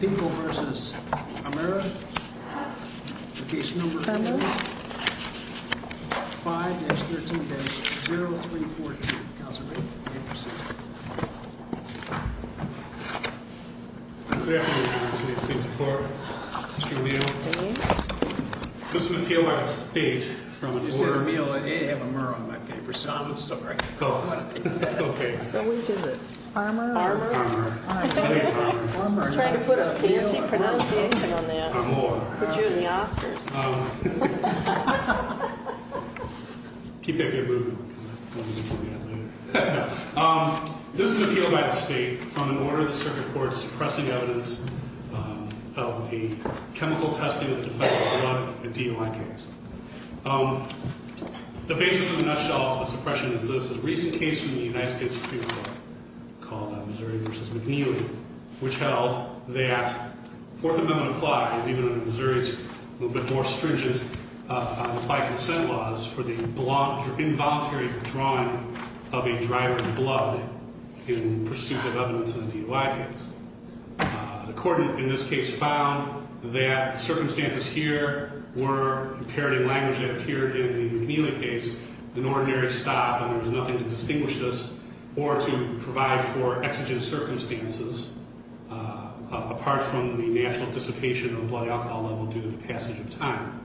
People v. Armer, Case No. 5-13-0314, Council Meeting, April 6th. Good afternoon, Council. Please support Mr. O'Meara. Mr. McHale, I have a statement from the board. You said O'Meara, I didn't have Armer on my paper, so I'm sorry. Oh, okay. So which is it? Armer? Armer. I'm trying to put a fancy pronunciation on that. Put you in the Oscars. Keep that good mood. This is an appeal by the state from an order of the circuit court suppressing evidence of a chemical testing of the defense of a DUI case. The basis of the nutshell of the suppression is this. A recent case from the United States Supreme Court called Missouri v. McNeely, which held that Fourth Amendment applies, even under Missouri's a little bit more stringent applied consent laws, for the involuntary withdrawing of a driver's blood in pursuit of evidence of a DUI case. The court in this case found that the circumstances here were, in parody language that appeared in the McNeely case, an ordinary stop, and there was nothing to distinguish this or to provide for exigent circumstances, apart from the natural dissipation of blood alcohol level due to the passage of time.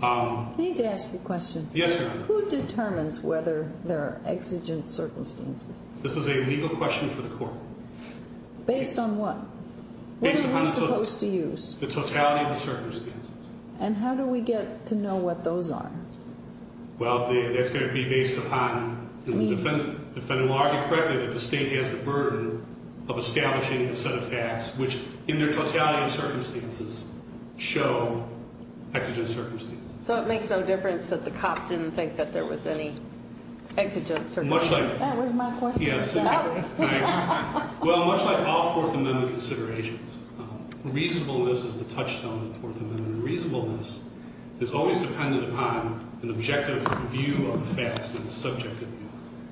I need to ask you a question. Yes, Your Honor. Who determines whether there are exigent circumstances? This is a legal question for the court. Based on what? What are we supposed to use? The totality of the circumstances. And how do we get to know what those are? Well, that's going to be based upon the defendant. The defendant will argue correctly that the state has the burden of establishing a set of facts which in their totality of circumstances show exigent circumstances. So it makes no difference that the cop didn't think that there was any exigent circumstances? That was my question. Well, much like all Fourth Amendment considerations, reasonableness is the touchstone of the Fourth Amendment. Reasonableness is always dependent upon an objective view of the facts and the subject of the law.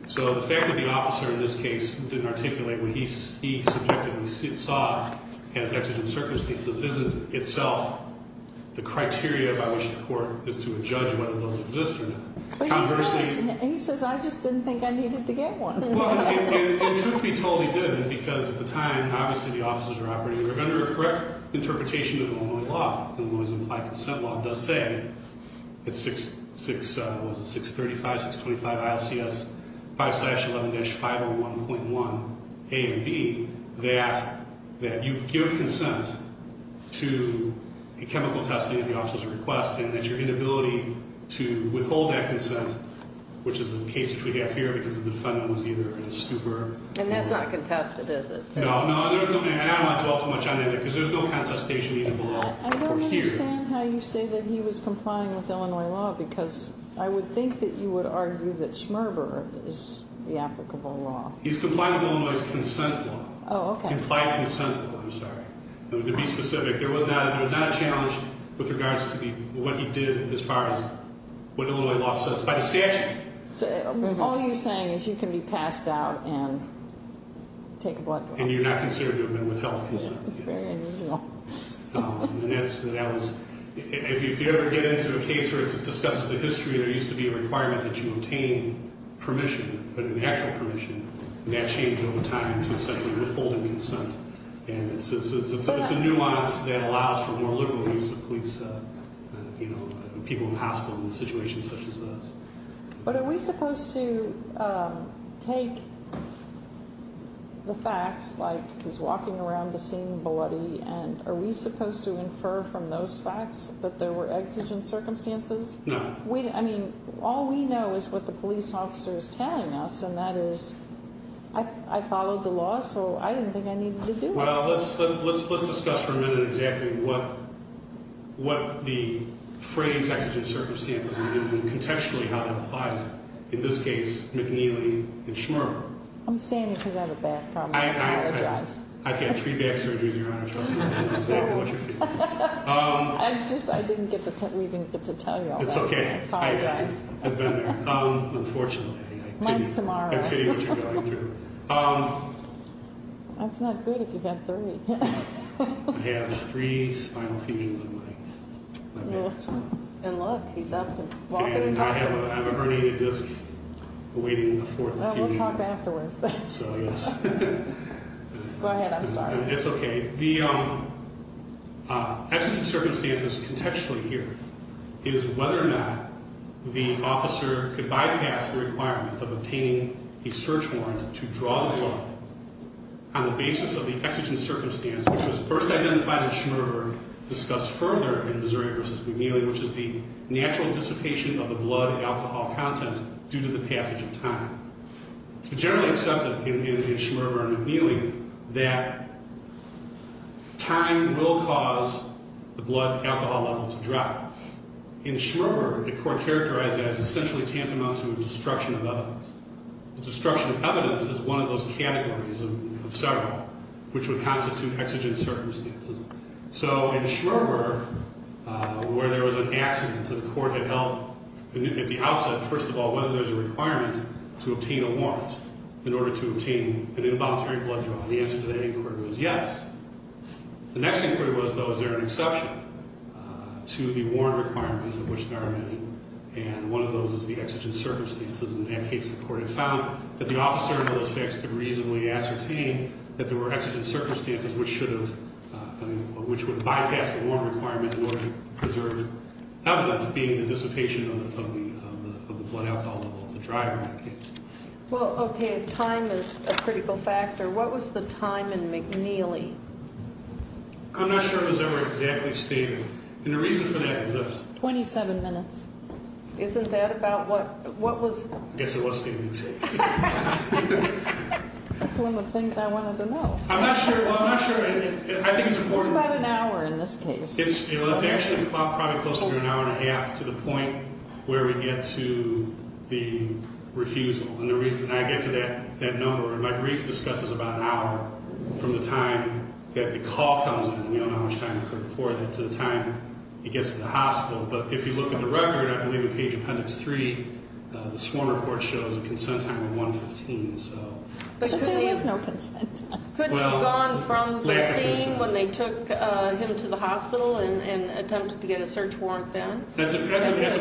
So the fact that the officer in this case didn't articulate what he subjectively saw as exigent circumstances isn't itself the criteria by which the court is to judge whether those exist or not. And he says, I just didn't think I needed to get one. Well, and truth be told, he did. Because at the time, obviously, the officers were operating under a correct interpretation of Illinois law. Illinois implied consent law does say at 635, 625 ILCS 5-11-501.1 A and B that you give consent to a chemical testing at the officer's request and that your inability to withhold that consent, which is the case which we have here, because the defendant was either in a stupor or... And that's not contested, is it? No, no, and I don't want to dwell too much on that because there's no contestation either below or here. I don't understand how you say that he was complying with Illinois law because I would think that you would argue that Schmerber is the applicable law. He's complying with Illinois' consent law. Oh, okay. Implied consent law, I'm sorry. To be specific, there was not a challenge with regards to what he did as far as what Illinois law says by the statute. So all you're saying is you can be passed out and take a blood draw? And you're not considered to have been withheld consent, I guess. That's very unusual. And that was, if you ever get into a case where it discusses the history, there used to be a requirement that you obtain permission, but an actual permission, and that changed over time to essentially withholding consent. And it's a nuance that allows for more liberal use of police, you know, people in the hospital in situations such as those. But are we supposed to take the facts, like he's walking around the scene bloody, and are we supposed to infer from those facts that there were exigent circumstances? No. I mean, all we know is what the police officer is telling us, and that is I followed the law, so I didn't think I needed to do it. Well, let's discuss for a minute exactly what the phrase exigent circumstances and contextually how that applies. In this case, McNeely and Schmermer. I'm standing because I have a back problem. I apologize. I've had three back surgeries, Your Honor. Sorry. I didn't get to tell you all that. It's okay. I apologize. I've been there. Unfortunately. Mine's tomorrow. I pity what you're going through. That's not good if you've got three. I have three spinal fusions on my back. And look, he's up and walking around. And I have a herniated disc awaiting a fourth. We'll talk afterwards. So, yes. Go ahead. I'm sorry. It's okay. The exigent circumstances contextually here is whether or not the officer could bypass the requirement of obtaining a search warrant to draw the blood on the basis of the exigent circumstance, which was first identified in Schmerber, discussed further in Missouri v. McNeely, which is the natural dissipation of the blood alcohol content due to the passage of time. It's generally accepted in Schmerber and McNeely that time will cause the blood alcohol level to drop. In Schmerber, the court characterized it as essentially tantamount to a destruction of evidence. The destruction of evidence is one of those categories of several, which would constitute exigent circumstances. So in Schmerber, where there was an accident that the court had held, at the outset, first of all, whether there's a requirement to obtain a warrant in order to obtain an involuntary blood draw, the answer to that inquiry was yes. The next inquiry was, though, is there an exception to the warrant requirements of which there are many, and one of those is the exigent circumstances. In that case, the court had found that the officer, under those facts, could reasonably ascertain that there were exigent circumstances which would bypass the warrant requirement in order to preserve evidence, being the dissipation of the blood alcohol level of the driver, in that case. Well, okay. If time is a critical factor, what was the time in McNeely? I'm not sure it was ever exactly stated. And the reason for that is this. Twenty-seven minutes. Isn't that about what? What was? I guess it was stated. That's one of the things I wanted to know. I'm not sure. I think it's important. It's about an hour in this case. It's actually probably closer to an hour and a half to the point where we get to the refusal. And the reason I get to that number, and my brief discusses about an hour from the time that the call comes in, and we don't know how much time occurred before that, to the time it gets to the hospital. But if you look at the record, I believe in page appendix three, the sworn report shows a consent time of 115. But there was no consent time. Couldn't have gone from the scene when they took him to the hospital and attempted to get a search warrant then? That's a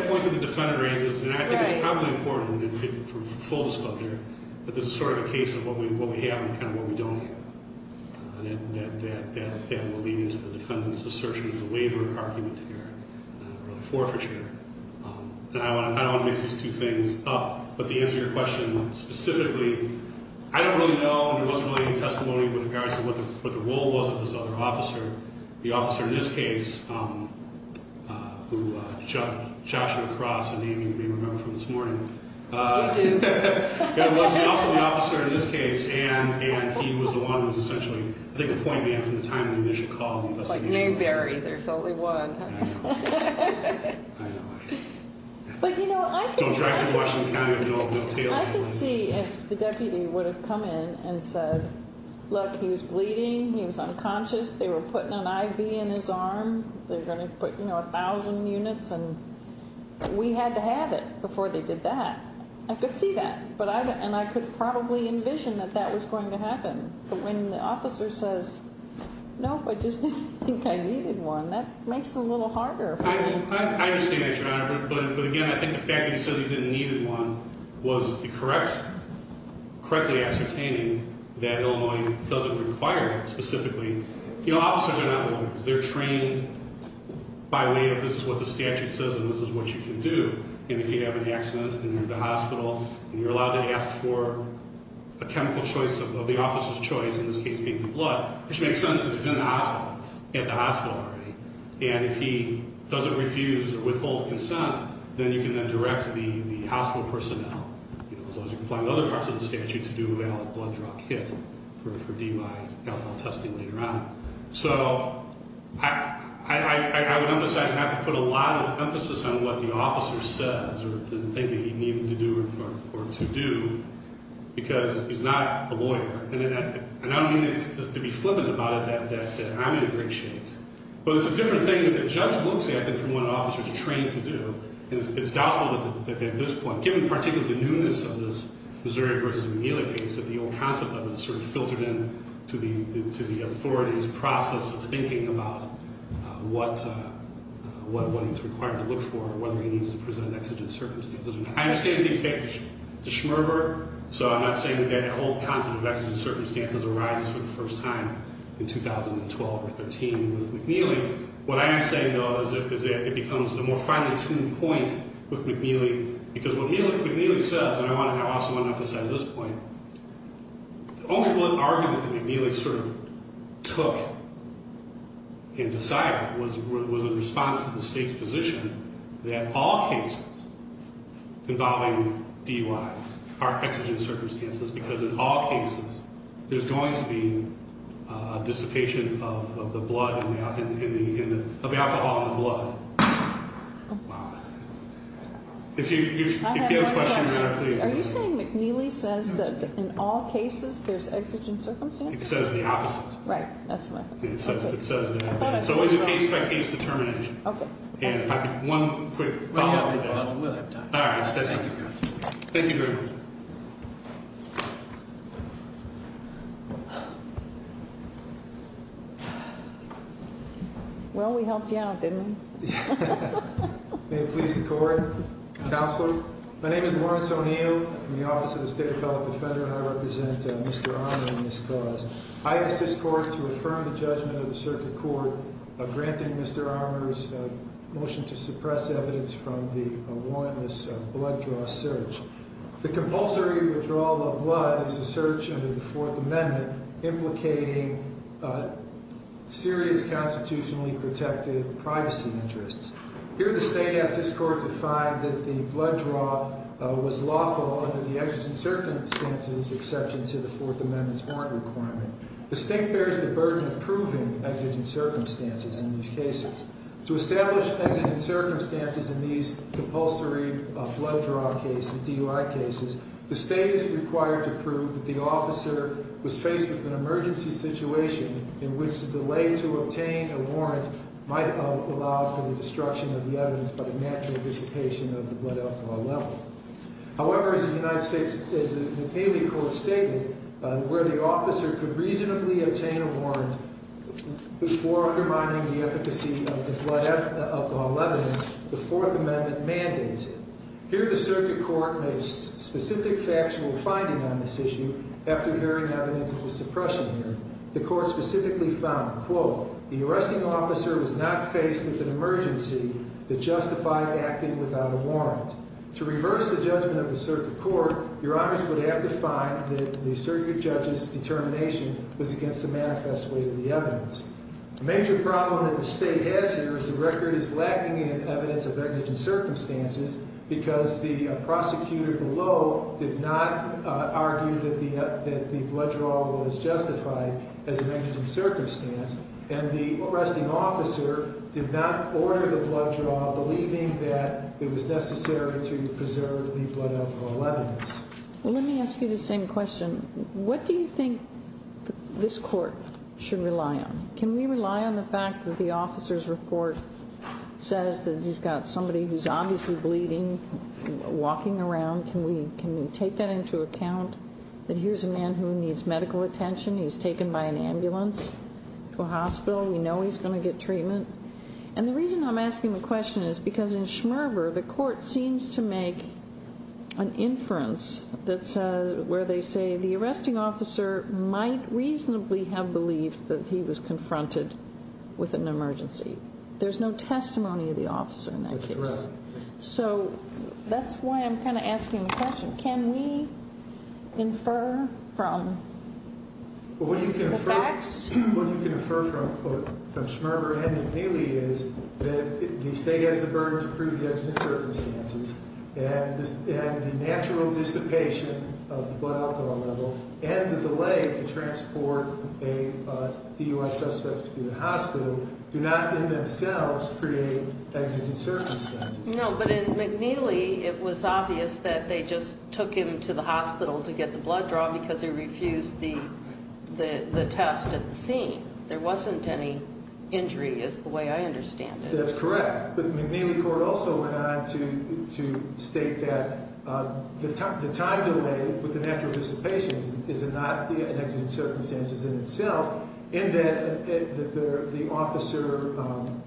point that the defendant raises. And I think it's probably important for full disclosure that this is sort of a case of what we have and kind of what we don't have. And that will lead into the defendant's assertion of the waiver argument here, or the forfeiture. And I don't want to mix these two things up. But to answer your question specifically, I don't really know, and there wasn't really any testimony with regards to what the role was of this other officer. The officer in this case, who shot you across in the evening, you may remember from this morning. We do. There was also the officer in this case, and he was the one who was essentially, I think, the point man from the time of the initial call and investigation. Like Mayberry, there's only one. I know. I know. But, you know, I can see if the deputy would have come in and said, look, he was bleeding, he was unconscious, they were putting an IV in his arm, they were going to put, you know, a thousand units. And we had to have it before they did that. I could see that. And I could probably envision that that was going to happen. But when the officer says, no, I just didn't think I needed one, that makes it a little harder. I understand that, Your Honor. But, again, I think the fact that he says he didn't need one was the correct, correctly ascertaining that Illinois doesn't require it specifically. You know, officers are not lawyers. They're trained by way of this is what the statute says and this is what you can do. And if you have an accident and you're at the hospital and you're allowed to ask for a chemical choice of the officer's choice, in this case being the blood, which makes sense because he's in the hospital, at the hospital already, and if he doesn't refuse or withhold consent, then you can then direct the hospital personnel, as long as you comply with other parts of the statute, to do a valid blood draw kit for DUI alcohol testing later on. So I would emphasize you have to put a lot of emphasis on what the officer says or the thing that he needed to do or to do because he's not a lawyer. And I don't mean to be flippant about it, that I'm in a great shape. But it's a different thing that the judge looks at than from what an officer is trained to do. And it's doubtful that at this point, given particularly the newness of this Missouri v. McNeely case, that the old concept of it is sort of filtered in to the authority's process of thinking about what he's required to look for or whether he needs to present an exigent circumstance. I understand it takes back to Schmerber. So I'm not saying that that old concept of exigent circumstances arises for the first time in 2012 or 13 with McNeely. What I am saying, though, is that it becomes a more finely tuned point with McNeely because what McNeely says, and I also want to emphasize this point, the only one argument that McNeely sort of took and decided was in response to the state's position that all cases involving DUIs are exigent circumstances because in all cases, there's going to be dissipation of the blood, of the alcohol in the blood. Wow. If you have a question, please. Are you saying McNeely says that in all cases there's exigent circumstances? It says the opposite. Right. That's what I thought. It says that. It's always a case-by-case determination. Okay. And if I could, one quick follow-up. We'll have time. All right. Thank you very much. Thank you. Well, we helped you out, didn't we? May it please the Court? Counselor? My name is Lawrence O'Neill from the Office of the State Appellate Defender, and I represent Mr. Armour in this cause. I ask this Court to affirm the judgment of the circuit court of granting Mr. Armour's motion to suppress evidence from the warrantless blood draw search. The compulsory withdrawal of blood is a search under the Fourth Amendment implicating serious constitutionally protected privacy interests. Here the State asks this Court to find that the blood draw was lawful under the exigent circumstances exception to the Fourth Amendment's warrant requirement. The State bears the burden of proving exigent circumstances in these cases. To establish exigent circumstances in these compulsory blood draw cases, DUI cases, the State is required to prove that the officer was faced with an emergency situation in which the delay to obtain a warrant might have allowed for the destruction of the evidence by the natural dissipation of the blood alcohol level. However, as the United States, as the Pele Court stated, where the officer could reasonably obtain a warrant before undermining the efficacy of the blood alcohol level, the Fourth Amendment mandates it. Here the circuit court makes specific factual finding on this issue after hearing evidence of the suppression here. The court specifically found, quote, the arresting officer was not faced with an emergency that justified acting without a warrant. To reverse the judgment of the circuit court, your honors would have to find that the circuit judge's determination was against the manifest weight of the evidence. A major problem that the State has here is the record is lacking in evidence of exigent circumstances because the prosecutor below did not argue that the blood draw was justified as an exigent circumstance and the arresting officer did not order the blood draw while believing that it was necessary to preserve the blood alcohol level. Let me ask you the same question. What do you think this court should rely on? Can we rely on the fact that the officer's report says that he's got somebody who's obviously bleeding walking around? Can we take that into account? Here's a man who needs medical attention. He's taken by an ambulance to a hospital. We know he's going to get treatment. And the reason I'm asking the question is because in Schmerber, the court seems to make an inference where they say the arresting officer might reasonably have believed that he was confronted with an emergency. There's no testimony of the officer in that case. That's correct. So that's why I'm kind of asking the question. Can we infer from the facts? What you can infer from Schmerber and McNeely is that the state has the burden to prove the exigent circumstances and the natural dissipation of the blood alcohol level and the delay to transport a DUI suspect to the hospital do not in themselves create exigent circumstances. No, but in McNeely it was obvious that they just took him to the hospital to get the blood draw because they refused the test at the scene. There wasn't any injury is the way I understand it. That's correct. But McNeely court also went on to state that the time delay with the natural dissipation is not the exigent circumstances in itself in that the officer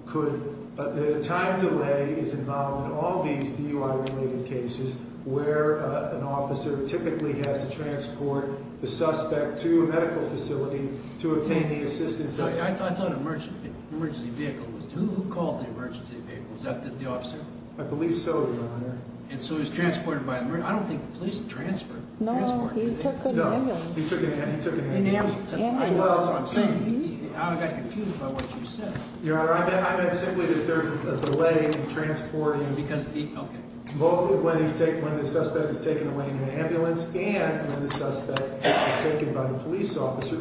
could, the time delay is involved in all these DUI related cases where an officer typically has to transport the suspect to a medical facility to obtain the assistance. I thought an emergency vehicle was, who called the emergency vehicle? Was that the officer? I believe so, Your Honor. And so he was transported by, I don't think the police transferred him. No, he took an ambulance. He took an ambulance. An ambulance. That's what I'm saying. I got confused by what you said. Your Honor, I meant simply that there's a delay in transporting both when the suspect is taken away in an ambulance and when the suspect is taken by the police officer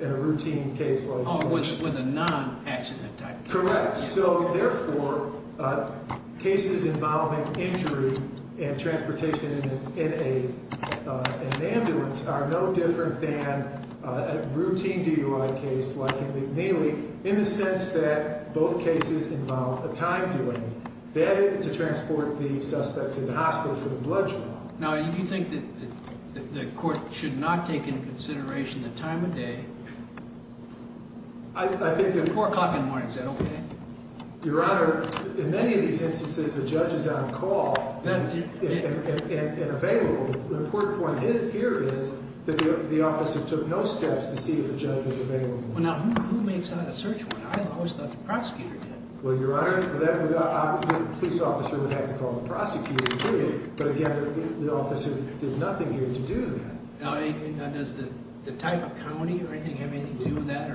in a routine case like this. With a non-accident type. Correct. So, therefore, cases involving injury and transportation in an ambulance are no different than a routine DUI case like McNeely in the sense that both cases involve a time delay. That is to transport the suspect to the hospital for the blood draw. Now, do you think that the court should not take into consideration the time of day? I think that... Four o'clock in the morning, is that okay? Your Honor, in many of these instances, the judge is on call and available. The important point here is that the officer took no steps to see if the judge was available. Well, now, who makes that a search warrant? I always thought the prosecutor did. Well, Your Honor, the police officer would have to call the prosecutor, period. But, again, the officer did nothing here to do that. Now, does the type of county or anything have anything to do with that?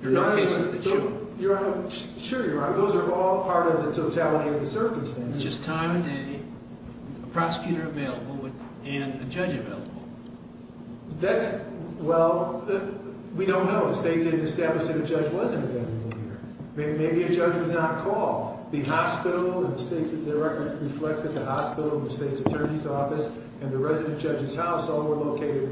There are no cases that show. Your Honor, sure, Your Honor. Those are all part of the totality of the circumstances. It's just time of day, a prosecutor available, and a judge available. That's... Well, we don't know. The state didn't establish that a judge wasn't available here. Maybe a judge was on call. The hospital and the state's...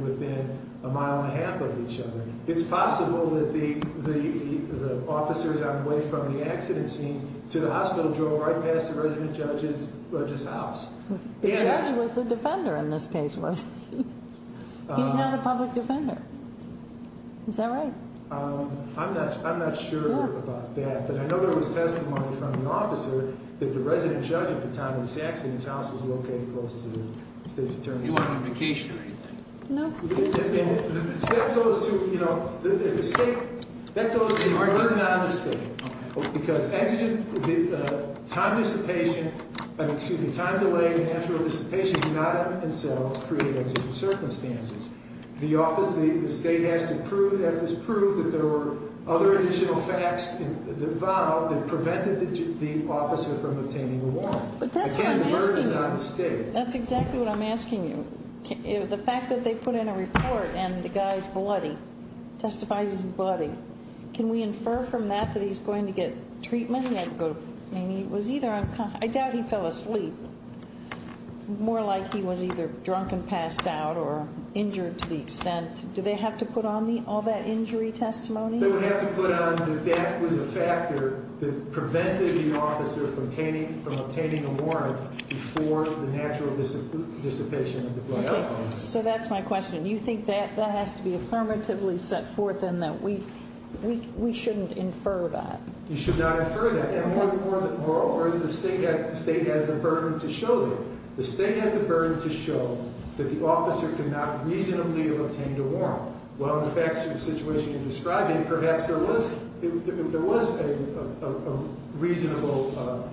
Within a mile and a half of each other. It's possible that the officers on the way from the accident scene to the hospital drove right past the resident judge's house. The judge was the defender in this case, wasn't he? He's now the public defender. Is that right? I'm not sure about that. But I know there was testimony from the officer that the resident judge at the time of this accident's house was located close to the state's attorney's house. Do you want an invocation or anything? No. That goes to, you know, the state. That goes to the argument on the state. Because time delay and natural dissipation do not in themselves create exigent circumstances. The state has to prove that there were other additional facts involved that prevented the officer from obtaining a warrant. Again, the verdict is on the state. That's exactly what I'm asking you. The fact that they put in a report and the guy's bloody, testifies he's bloody. Can we infer from that that he's going to get treatment? I doubt he fell asleep. More like he was either drunk and passed out or injured to the extent. Do they have to put on all that injury testimony? They would have to put on that that was a factor that prevented the officer from obtaining a warrant before the natural dissipation of the blood loss. So that's my question. You think that has to be affirmatively set forth and that we shouldn't infer that? You should not infer that. And moreover, the state has the burden to show that. The state has the burden to show that the officer could not reasonably have obtained a warrant. Well, in the facts of the situation you're describing, perhaps there was a reasonable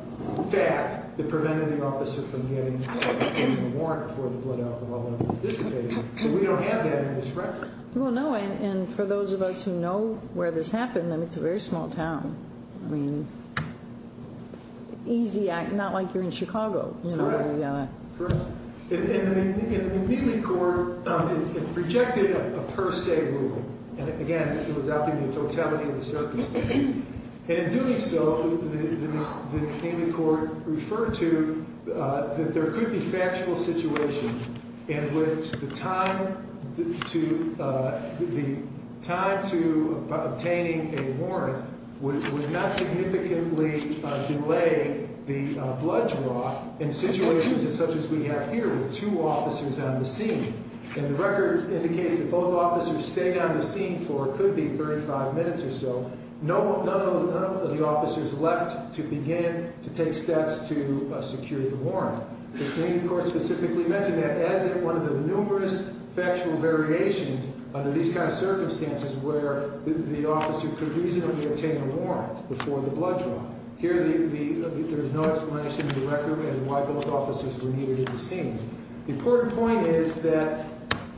fact that prevented the officer from getting a warrant for the blood alcohol dissipation. But we don't have that in this record. Well, no, and for those of us who know where this happened, it's a very small town. I mean, easy, not like you're in Chicago. Correct. In the McNeely court, it projected a per se rule. And again, it would not be the totality of the circumstances. And in doing so, the McNeely court referred to that there could be factual situations in which the time to obtaining a warrant would not significantly delay the blood draw in situations such as we have here with two officers on the scene. And the record indicates that both officers stayed on the scene for what could be 35 minutes or so. None of the officers left to begin to take steps to secure the warrant. The McNeely court specifically mentioned that as one of the numerous factual variations under these kind of circumstances where the officer could reasonably obtain a warrant before the blood draw. Here, there is no explanation in the record as to why both officers were needed at the scene. The important point is that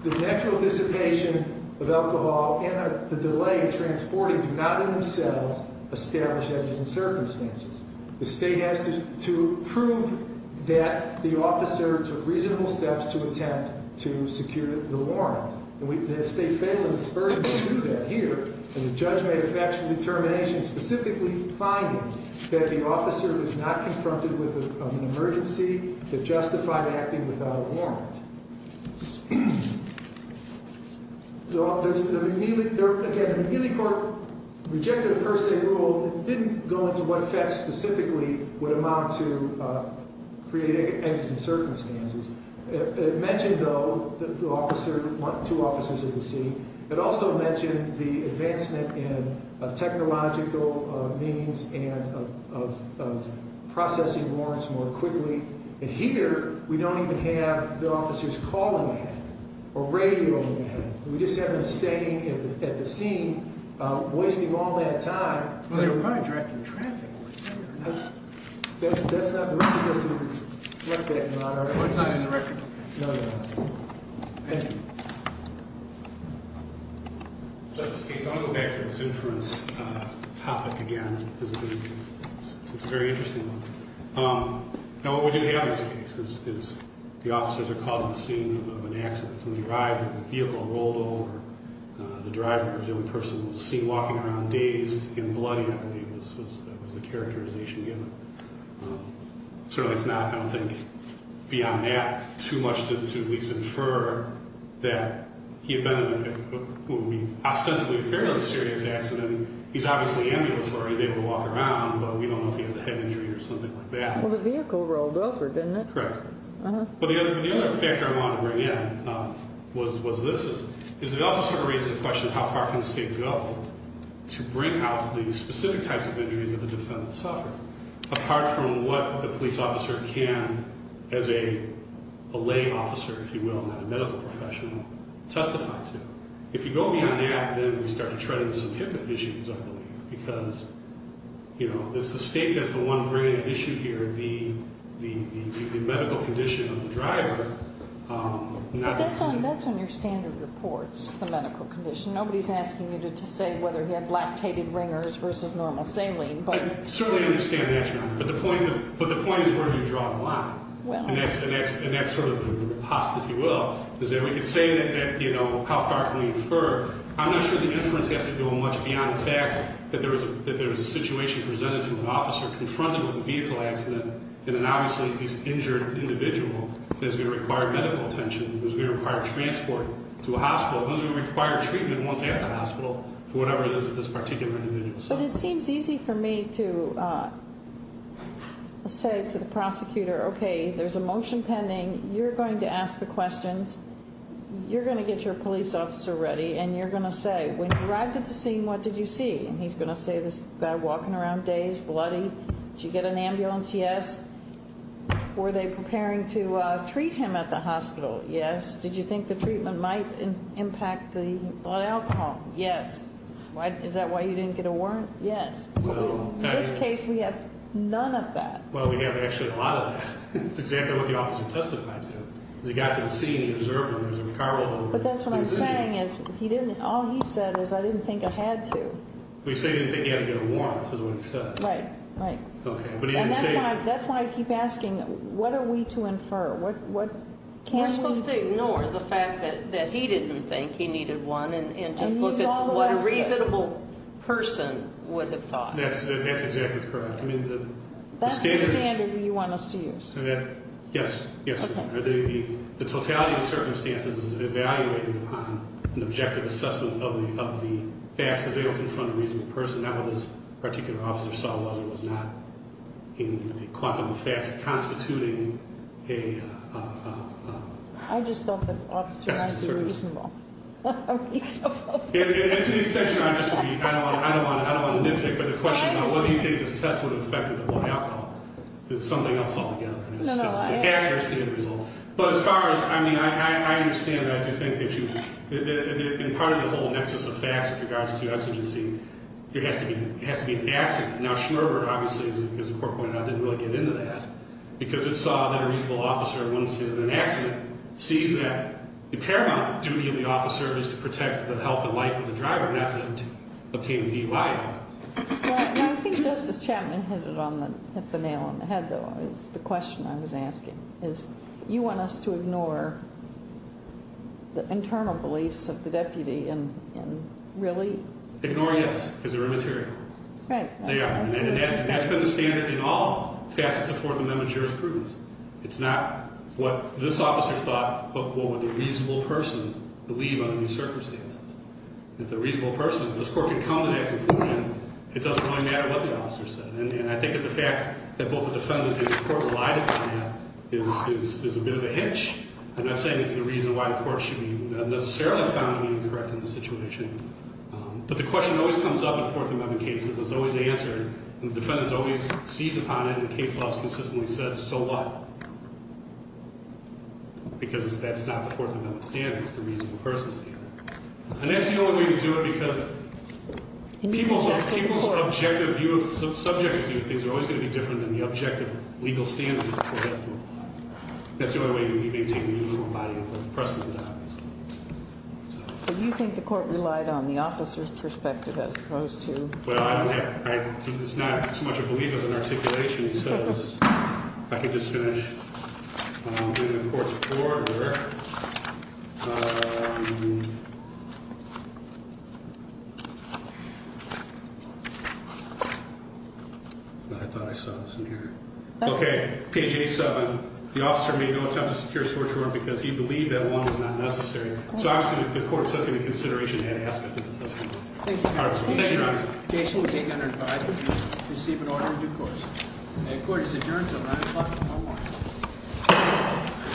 the natural dissipation of alcohol and the delay in transporting do not in themselves establish evidence in circumstances. The state has to prove that the officer took reasonable steps to attempt to secure the warrant. And the state failed in its burden to do that here. And the judge made a factual determination specifically finding that the officer was not confronted with an emergency that justified acting without a warrant. Again, the McNeely court rejected a per se rule that didn't go into what effects specifically would amount to creating evidence in circumstances. It mentioned, though, the officer, two officers at the scene. It also mentioned the advancement in technological means and of processing warrants more quickly. And here, we don't even have the officers calling ahead or radioing ahead. We just have them staying at the scene, wasting all that time. Well, they were probably driving in traffic. That's not in the record. It's not in the record? No, no. Thank you. Justice Case, I'm going to go back to this inference topic again because it's a very interesting one. Now, what we do have in this case is the officers are called at the scene of an accident. When they arrived, the vehicle rolled over. The driver was the only person we've seen walking around dazed and bloody, I believe, was the characterization given. Certainly, it's not, I don't think, beyond that too much to at least infer that he had been in what would be ostensibly a fairly serious accident. He's obviously ambulatory. He's able to walk around, but we don't know if he has a head injury or something like that. Well, the vehicle rolled over, didn't it? Correct. But the other factor I wanted to bring in was this. It also sort of raises the question of how far can the state go to bring out the specific types of injuries that the defendant suffered, apart from what the police officer can, as a lay officer, if you will, not a medical professional, testify to. If you go beyond that, then we start to tread into some HIPAA issues, I believe, because it's the state that's the one bringing the issue here, the medical condition of the driver. But that's on your standard reports, the medical condition. Nobody's asking you to say whether he had lactated ringers versus normal saline. I certainly understand that, Your Honor, but the point is where do you draw the line? And that's sort of the repost, if you will, is that we could say that how far can we infer? I'm not sure the inference has to go much beyond the fact that there was a situation presented to an officer confronted with a vehicle accident in an obviously injured individual that's going to require medical attention, that's going to require transport to a hospital, that's going to require treatment once at the hospital for whatever it is of this particular individual. But it seems easy for me to say to the prosecutor, okay, there's a motion pending. You're going to ask the questions. You're going to get your police officer ready, and you're going to say, when you arrived at the scene, what did you see? And he's going to say, this guy walking around dazed, bloody. Did you get an ambulance? Yes. Were they preparing to treat him at the hospital? Yes. Did you think the treatment might impact the blood alcohol? Yes. Is that why you didn't get a warrant? Yes. In this case, we have none of that. Well, we have actually a lot of that. That's exactly what the officer testified to. He got to the scene, he observed him, he was in the car with him. But that's what I'm saying is, all he said is, I didn't think I had to. He said he didn't think he had to get a warrant is what he said. Right, right. Okay. And that's why I keep asking, what are we to infer? We're supposed to ignore the fact that he didn't think he needed one and just look at what a reasonable person would have thought. That's exactly correct. That's the standard you want us to use? Yes, yes. The totality of circumstances is evaluated on an objective assessment of the facts. If they don't confront a reasonable person, that what this particular officer saw was or was not in the quantum of facts constituting a... I just thought the officer ought to be reasonable. And to the extent you're not disagreeing, I don't want to nitpick, but the question of whether you think this test would have affected the alcohol is something else altogether. It's the accuracy of the result. But as far as, I mean, I understand and I do think that you, and part of the whole nexus of facts with regards to exigency, there has to be an accident. Now, Schmerber obviously, as the court pointed out, didn't really get into that because it saw that a reasonable officer in an accident sees that the paramount duty of the officer is to protect the health and life of the driver, not to obtain DUI. I think Justice Chapman hit the nail on the head, though, is the question I was asking, is you want us to ignore the internal beliefs of the deputy and really... Ignore, yes, because they're immaterial. Right. They are. And that's been the standard in all facets of Fourth Amendment jurisprudence. It's not what this officer thought, but what would the reasonable person believe under these circumstances. If the reasonable person, if this court can come to that conclusion, it doesn't really matter what the officer said. And I think that the fact that both the defendant and the court relied upon that is a bit of a hitch. I'm not saying it's the reason why the court should be, necessarily found to be incorrect in the situation. But the question always comes up in Fourth Amendment cases. It's always answered, and the defendant's always seized upon it, and the case law has consistently said, so what? Because that's not the Fourth Amendment standard. It's the reasonable person standard. And that's the only way to do it because people's objective view, subjective view of things are always going to be different than the objective legal standard. That's the only way you maintain the uniform body of precedent. But you think the court relied on the officer's perspective as opposed to... It's not so much a belief as an articulation. I could just finish doing the court's report where... I thought I saw this in here. Okay, page 87. The officer made no attempt to secure a search warrant because he believed that one was not necessary. So obviously the court took into consideration that aspect of the testimony. Thank you, counsel. Thank you, counsel. The case will take under advisement to receive an order in due course. The court is adjourned until 9 o'clock tomorrow morning.